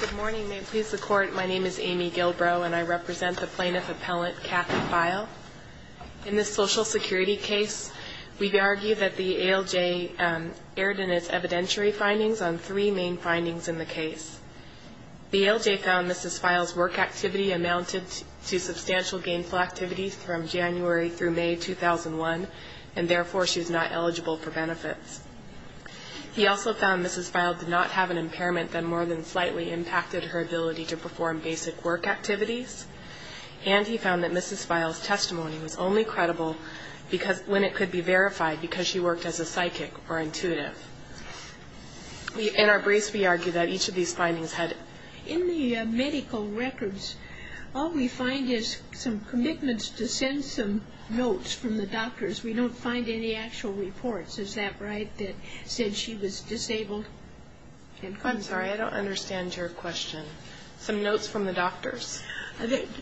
Good morning. May it please the Court, my name is Amy Gilbrow and I represent the plaintiff appellant Kathy Pfeil. In this Social Security case, we argue that the ALJ erred in its evidentiary findings on three main findings in the case. The ALJ found Mrs. Pfeil's work activity amounted to substantial gainful activity from January through May 2001 and therefore she was not eligible for benefits. He also found Mrs. Pfeil did not have an impairment that more than slightly impacted her ability to perform basic work activities. And he found that Mrs. Pfeil's testimony was only credible when it could be verified because she worked as a psychic or intuitive. In our briefs, we argue that each of these findings had... In the medical records, all we find is some commitments to send some notes from the doctors. We don't find any actual reports, is that right, that said she was disabled? I'm sorry, I don't understand your question. Some notes from the doctors?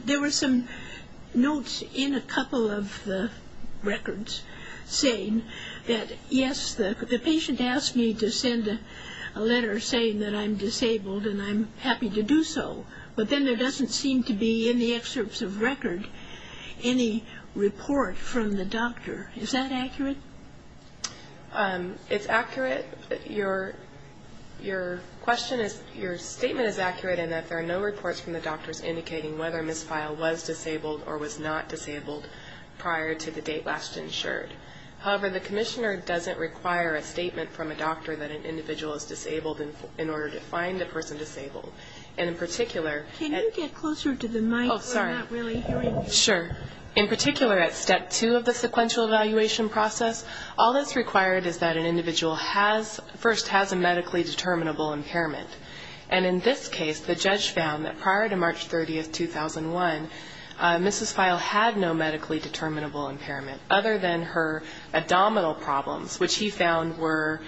There were some notes in a couple of the records saying that, yes, the patient asked me to send a letter saying that I'm disabled and I'm happy to do so, but then there doesn't seem to be in the excerpts of record any report from the doctor. Is that accurate? It's accurate. Your question is, your statement is accurate in that there are no reports from the doctors indicating whether Mrs. Pfeil was disabled or was not disabled prior to the date last insured. However, the commissioner doesn't require a statement from a doctor that an individual is disabled in order to find a person disabled. And in particular... Can you get closer to the mic? We're not really hearing you. Sure. In particular, at step two of the sequential evaluation process, all that's required is that an individual has, first, has a medically determinable impairment. And in this case, the judge found that prior to March 30, 2001, Mrs. Pfeil had no medically determinable impairment other than her abdominal problems, which he found were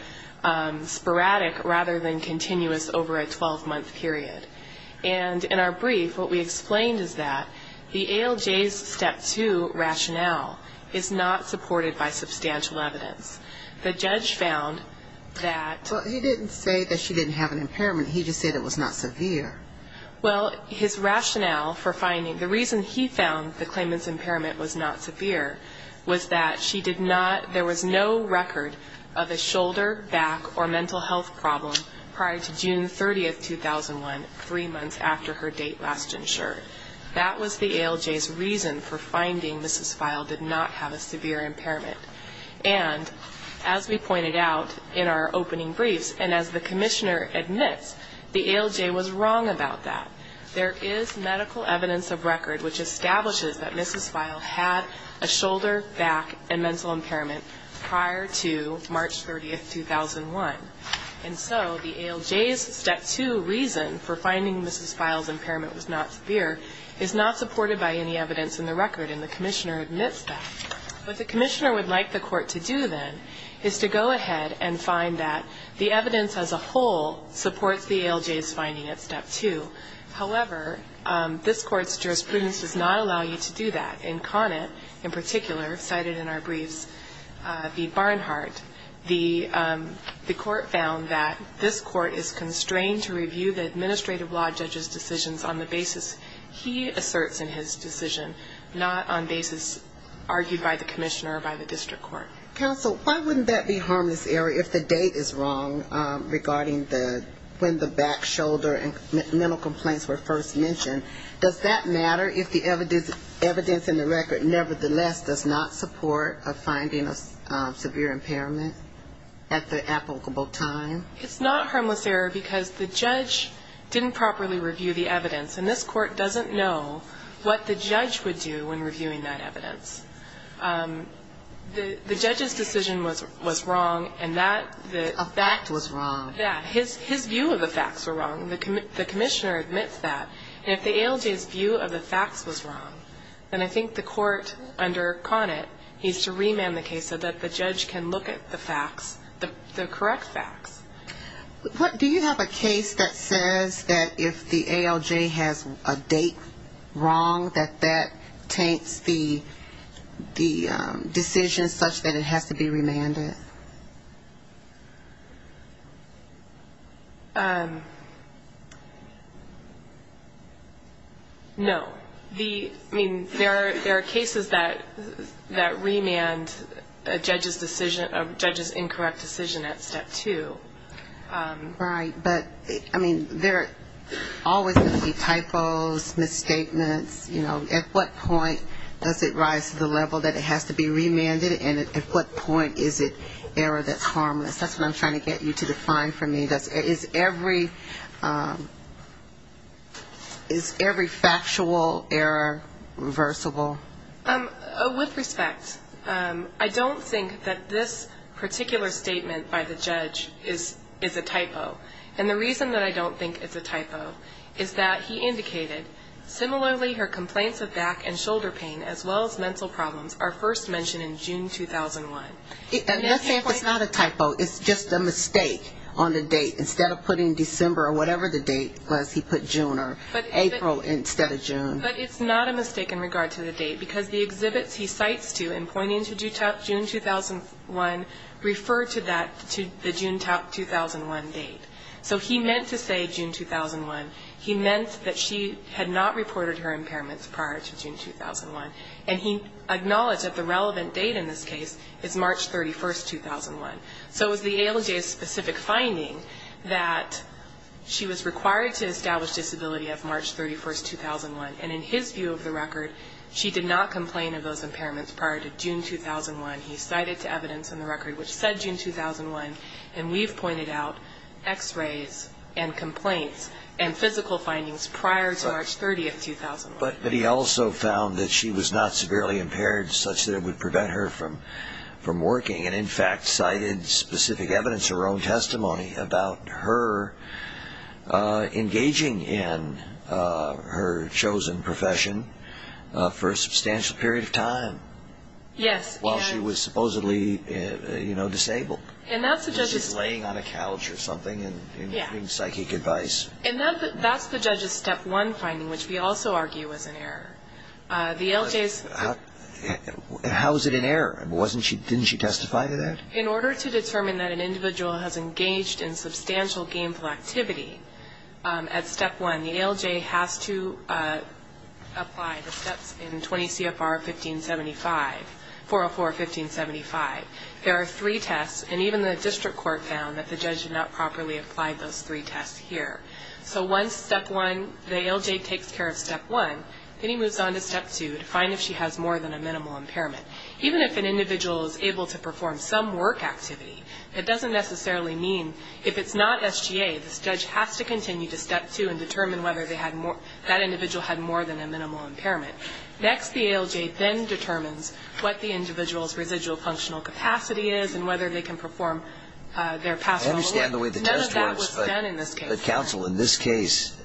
sporadic rather than continuous over a 12-month period. And in our brief, what we explained is that the ALJ's step two rationale is not supported by substantial evidence. The judge found that... Well, he didn't say that she didn't have an impairment. He just said it was not severe. Well, his rationale for finding, the reason he found the claimant's impairment was not severe was that she did not, there was no record of a shoulder, back, or mental health problem prior to June 30, 2001, three months after her date last insured. That was the ALJ's reason for finding Mrs. Pfeil did not have a severe impairment. And as we pointed out in our opening briefs, and as the commissioner admits, the ALJ was wrong about that. There is medical evidence of record which establishes that Mrs. Pfeil had a shoulder, back, and so the ALJ's step two reason for finding Mrs. Pfeil's impairment was not severe is not supported by any evidence in the record, and the commissioner admits that. What the commissioner would like the court to do, then, is to go ahead and find that the evidence as a whole supports the ALJ's finding at step two. However, this court's jurisprudence does not allow you to do that. In Conant, in particular, cited in our briefs v. Barnhart, the court found that this court is constrained to review the administrative law judge's decisions on the basis he asserts in his decision, not on basis argued by the commissioner or by the district court. Counsel, why wouldn't that be harmless error if the date is wrong regarding the, when the back, shoulder, and mental complaints were first mentioned? Does that matter if the evidence in the record, nevertheless, does not support a finding of severe impairment at the applicable time? It's not harmless error because the judge didn't properly review the evidence, and this court doesn't know what the judge would do when reviewing that evidence. The judge's decision was wrong, and that the A fact was wrong. That. His view of the facts were wrong. The commissioner admits that. And if the ALJ's view of the facts was wrong, then I think the court, under Conant, needs to remand the case so that the judge can look at the facts, the correct facts. Do you have a case that says that if the ALJ has a date wrong, that that taints the decision such that it has to be remanded? No. The, I mean, there are cases that remand a judge's decision, a judge's incorrect decision at step two. Right. But, I mean, there always can be typos, misstatements, you know, at what point does it rise to the level that it has to be remanded, and at what point is it error that's harmless? That's what I'm trying to get you to define for me. Is every factual error reversible? With respect, I don't think that this particular statement by the judge is a typo. And the reason that I don't think it's a typo is that he indicated, similarly, her complaints of mental problems are first mentioned in June 2001. And let's say it's not a typo. It's just a mistake on the date. Instead of putting December or whatever the date was, he put June or April instead of June. But it's not a mistake in regard to the date, because the exhibits he cites to in pointing to June 2001 refer to that, to the June 2001 date. So he meant to say June 2001. He meant that she had not reported her impairments prior to June 2001. And he acknowledged that the relevant date in this case is March 31, 2001. So it was the ALJ's specific finding that she was required to establish disability of March 31, 2001. And in his view of the record, she did not complain of those impairments prior to June 2001. He cited to evidence in the record which said June 2001. And we've pointed out x-rays and complaints and physical findings prior to March 30, 2001. But he also found that she was not severely impaired such that it would prevent her from working and, in fact, cited specific evidence, her own testimony, about her engaging in her chosen profession for a substantial period of time while she was supposedly disabled. She was laying on a couch or something and getting psychic advice. And that's the judge's Step 1 finding, which we also argue was an error. The ALJ's How is it an error? Didn't she testify to that? In order to determine that an individual has engaged in substantial gainful activity at Step 1, the ALJ has to apply the steps in 20 CFR 1575, 404, 1575. There are three tests. And even the district court found that the judge had not properly applied those three tests here. So once Step 1, the ALJ takes care of Step 1, then he moves on to Step 2 to find if she has more than a minimal impairment. Even if an individual is able to perform some work activity, that doesn't necessarily mean if it's not SGA, the judge has to continue to Step 2 and determine whether that individual had more than a minimal impairment. Next, the ALJ then determines what the individual's residual functional capacity is and whether they can perform their past role. I understand the way the test works, but counsel, in this case,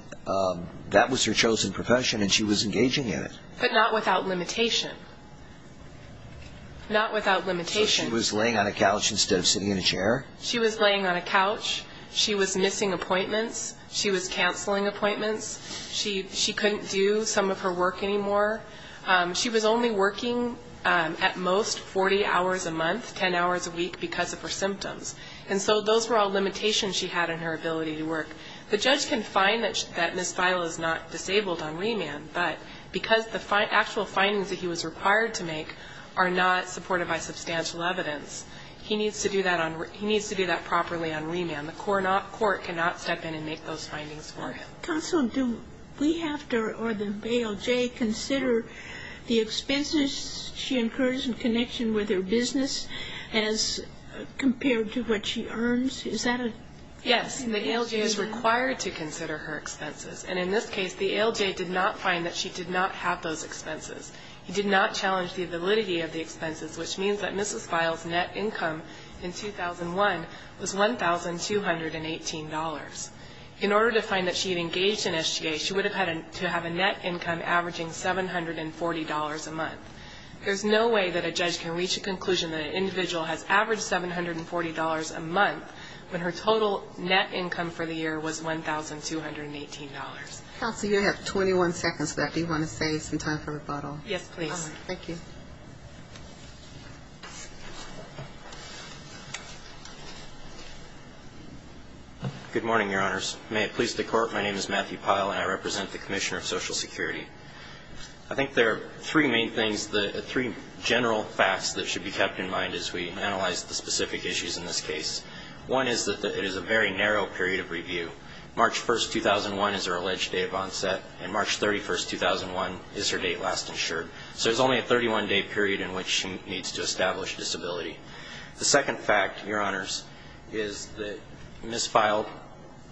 that was her chosen profession and she was engaging in it. But not without limitation. Not without limitation. So she was laying on a couch instead of sitting in a chair? She was laying on a couch. She was missing appointments. She was canceling appointments. She couldn't do some of her work anymore. She was only working at most 40 hours a month, 10 hours a week, because of her symptoms. And so those were all limitations she had in her ability to work. The judge can find that Ms. Feil is not disabled on remand, but because the actual findings that he was required to make are not supported by substantial evidence, he needs to do that properly on remand. The court cannot step in and make those findings for him. Counsel, do we have to, or the ALJ, consider the expenses she incurs in connection with her business as compared to what she earns? Is that a? Yes. The ALJ is required to consider her expenses. And in this case, the ALJ did not find that she did not have those expenses. He did not challenge the validity of the expenses, which means that Ms. Feil's net income in 2001 was $1,218. In order to find that she had engaged in SGA, she would have had to have a net income averaging $740 a month. There's no way that a judge can reach a conclusion that an individual has averaged $740 a month when her total net income for the year was $1,218. Counsel, you have 21 seconds left. Do you want to save some time for rebuttal? Yes, please. Thank you. Good morning, Your Honors. May it please the Court, my name is Matthew Pyle, and I represent the Commissioner of Social Security. I think there are three main things, three general facts that should be kept in mind as we analyze the specific issues in this case. One is that it is a very narrow period of review. March 1st, 2001 is her alleged date of onset, and March 31st, 2001 is her date last insured. So there's only a 31-day period in which she needs to establish disability. The second fact, Your Honors, is that Ms. Feil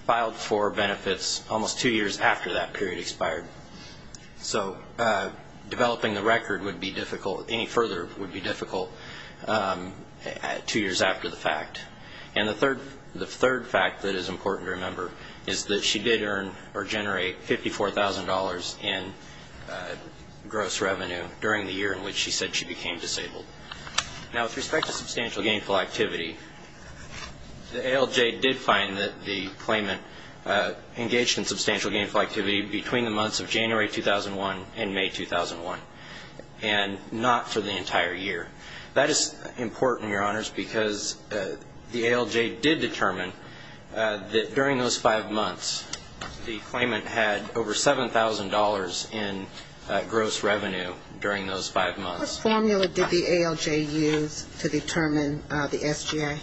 filed for benefits almost two years after that period expired. So developing the record would be difficult, any further would be difficult, two years after the fact. And the third fact that is important to remember is that she did earn or generate $54,000 in gross revenue during the year in which she said she became disabled. Now, with respect to substantial gainful activity, the ALJ did find that the claimant engaged in substantial gainful activity between the months of January 2001 and May 2001, and not for the entire year. That is important, Your Honors, because the ALJ did determine that during those five months, the claimant had over $7,000 in gross revenue during those five months. What formula did the ALJ use to determine the SGA?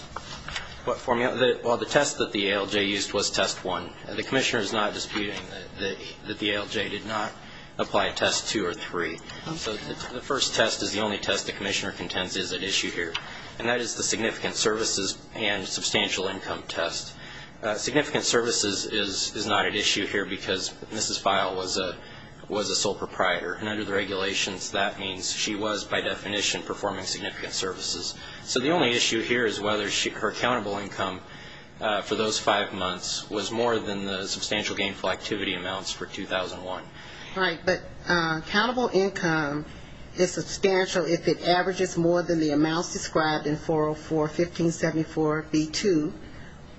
Well, the test that the ALJ used was Test 1. The Commissioner is not disputing that the ALJ did not apply a Test 2 or 3. So the first test is the only test the Commissioner contends is at issue here, and that is the significant services and substantial income test. Significant services is not at issue here because Mrs. Feil was a sole proprietor, and under the regulations, that means she was, by definition, performing significant services. So the only issue here is whether her accountable income for those five months was more than the substantial gainful activity amounts for 2001. Right, but accountable income is substantial if it averages more than the amounts described in 404.1574B2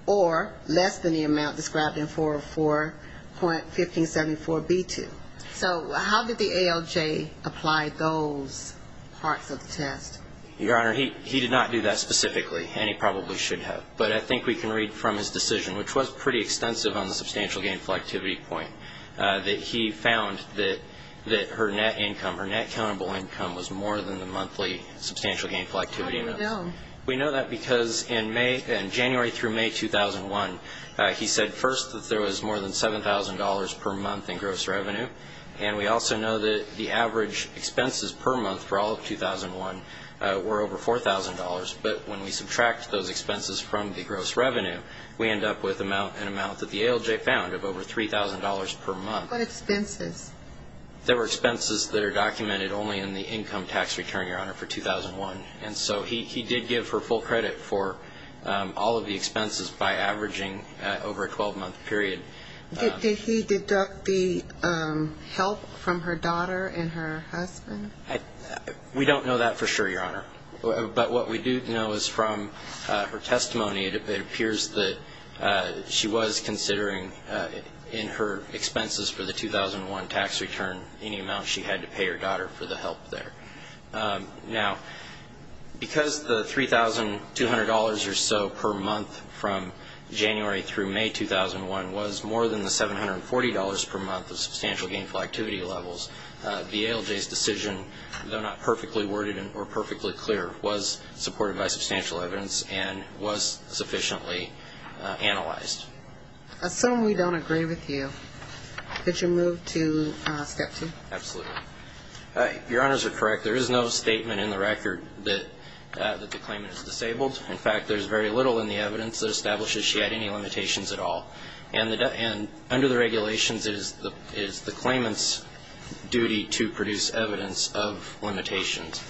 or less than the amount described in 404.1574B2. So how did the ALJ apply those parts of the test? Your Honor, he did not do that specifically, and he probably should have. But I think we can read from his decision, which was pretty extensive on the substantial gainful activity point, that he found that her net income, her net accountable income, was more than the monthly substantial gainful activity amounts. How do we know? We know that because in January through May 2001, he said first that there was more than $7,000 per month in gross revenue, and we also know that the average expenses per month for all of 2001 were over $4,000. But when we subtract those expenses from the gross revenue, we end up with an amount that the ALJ found of over $3,000 per month. What expenses? There were expenses that are documented only in the income tax return, Your Honor, for 2001. And so he did give her full credit for all of the expenses by averaging over a 12-month period. Did he deduct the help from her daughter and her husband? We don't know that for sure, Your Honor. But what we do know is from her testimony, it appears that she was considering, in her expenses for the 2001 tax return, any amount she had to pay her daughter for the help there. Now, because the $3,200 or so per month from January through May 2001 was more than the $740 per month of substantial gainful activity levels, the ALJ's decision, though not perfectly worded or perfectly clear, was supported by substantial evidence and was sufficiently analyzed. I assume we don't agree with you. Could you move to Step 2? Absolutely. Your Honors are correct. There is no statement in the record that the establishes she had any limitations at all. And under the regulations, it is the claimant's duty to produce evidence of limitations.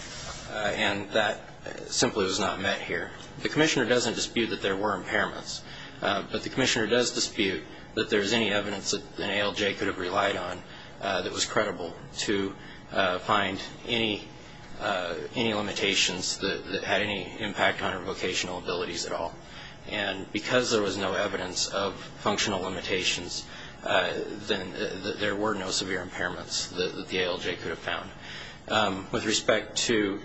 And that simply was not met here. The Commissioner doesn't dispute that there were impairments, but the Commissioner does dispute that there is any evidence that an ALJ could have relied on that was no severe impairments at all. And because there was no evidence of functional limitations, then there were no severe impairments that the ALJ could have found. With respect to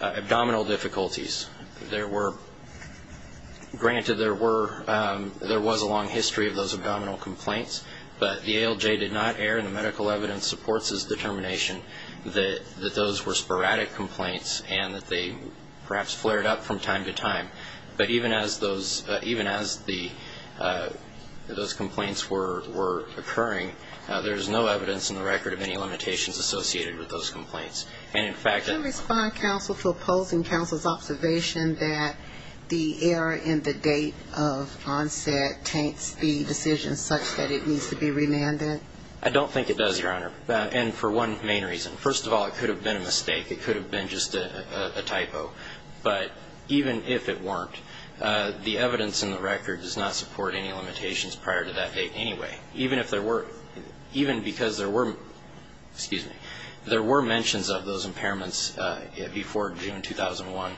abdominal difficulties, there were, granted there were, there was a long history of those abdominal complaints, but the ALJ did not err in the medical evidence supports its determination that those were sporadic complaints and that they perhaps flared up from time to time. But even as those, even as the, those complaints were occurring, there is no evidence in the record of any limitations associated with those complaints. And, in fact, I Can you respond, counsel, to opposing counsel's observation that the error in the date of onset taints the decision such that it needs to be remanded? I don't think it does, Your Honor. And for one main reason. First of all, it could have been a hypo, but even if it weren't, the evidence in the record does not support any limitations prior to that date anyway. Even if there were, even because there were, excuse me, there were mentions of those impairments before June 2001,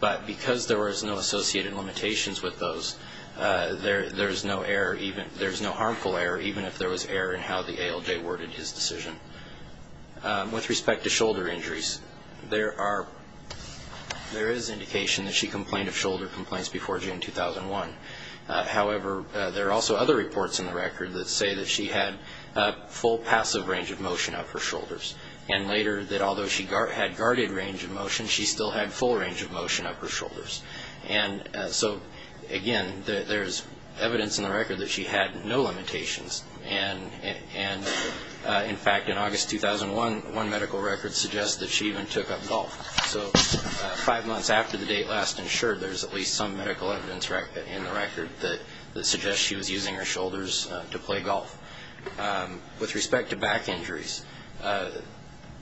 but because there was no associated limitations with those, there is no error, there is no harmful error, even if there was error in how the ALJ worded his There is indication that she complained of shoulder complaints before June 2001. However, there are also other reports in the record that say that she had full passive range of motion of her shoulders, and later that although she had guarded range of motion, she still had full range of motion of her shoulders. And so, again, there is evidence in the record that she had no limitations. And, in fact, in five months after the date last insured, there is at least some medical evidence in the record that suggests she was using her shoulders to play golf. With respect to back injuries,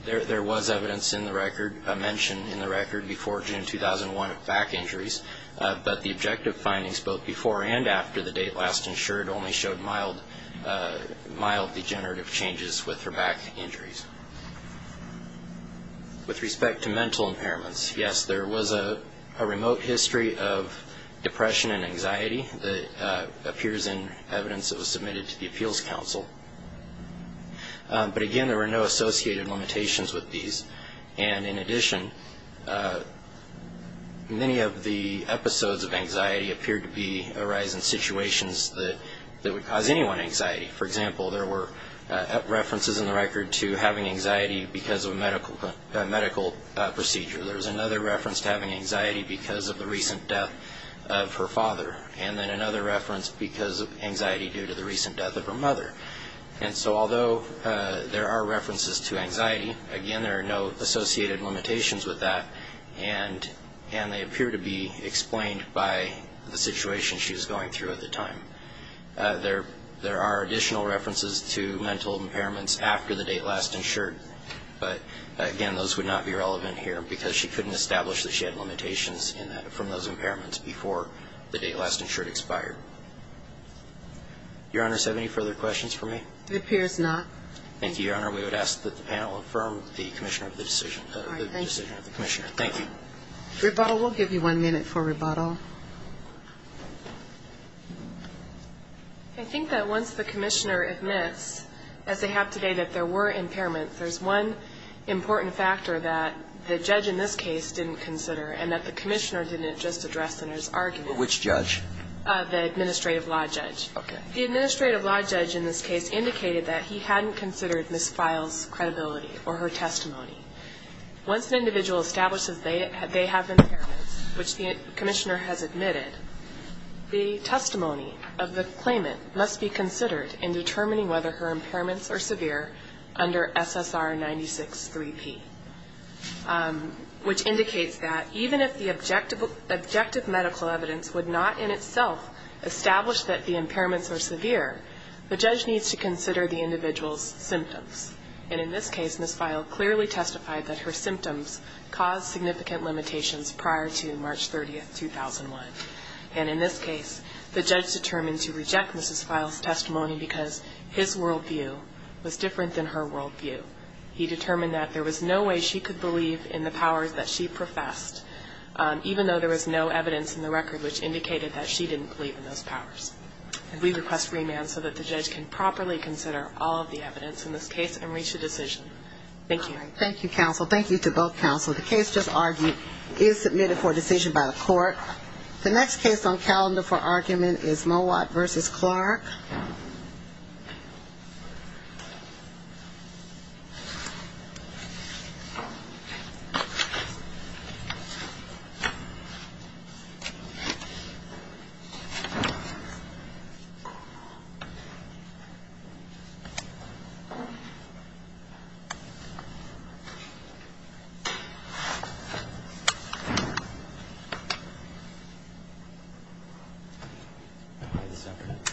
there was evidence in the record, a mention in the record before June 2001 of back injuries, but the objective findings both before and after the date last insured only showed mild, mild degenerative changes with her back injuries. With respect to mental impairments, yes, there was a remote history of depression and anxiety that appears in evidence that was submitted to the Appeals Council. But, again, there were no associated limitations with these. And, in addition, many of the episodes of anxiety appeared to be arising situations that would cause anyone anxiety. For example, there were references in the record to having anxiety because of a medical procedure. There was another reference to having anxiety because of the recent death of her father. And then another reference because of anxiety due to the recent death of her mother. And so, although there are references to anxiety, again, there are no associated limitations with that, and they appear to be explained by the situation she was going through at the time. There are additional references to mental impairments after the date last insured, but, again, those would not be relevant here because she couldn't establish that she had limitations from those impairments before the date last insured expired. Your Honor, do you have any further questions for me? It appears not. Thank you, Your Honor. We would ask that the panel affirm the decision of the Commissioner. Thank you. Rebuttal. We'll give you one minute for rebuttal. I think that once the Commissioner admits, as they have today, that there were impairments, there's one important factor that the judge in this case didn't consider and that the Commissioner didn't just address in his argument. Which judge? The administrative law judge. Okay. The administrative law judge in this case indicated that he hadn't considered Ms. Files' credibility or her testimony. Once an individual establishes they have impairments, which the Commissioner has admitted, the testimony of the claimant must be considered in determining whether her impairments are severe under SSR 96-3P, which indicates that even if the objective medical evidence would not in itself establish that the impairments are severe, the judge needs to consider the individual's symptoms. And in this case, Ms. Files clearly testified that her symptoms caused significant limitations prior to March 30, 2001. And in this case, the judge determined to reject Ms. Files' testimony because his worldview was different than her worldview. He determined that there was no way she could believe in the powers that she professed, even though there was no evidence in the record which indicated that she didn't believe in those powers. And we request remand so that the judge can properly consider all of the evidence in this case and reach a decision. Thank you. Thank you, counsel. Thank you to both counsel. The case just argued is submitted for decision by the court. The next case on calendar for argument is Mowat v. Clark.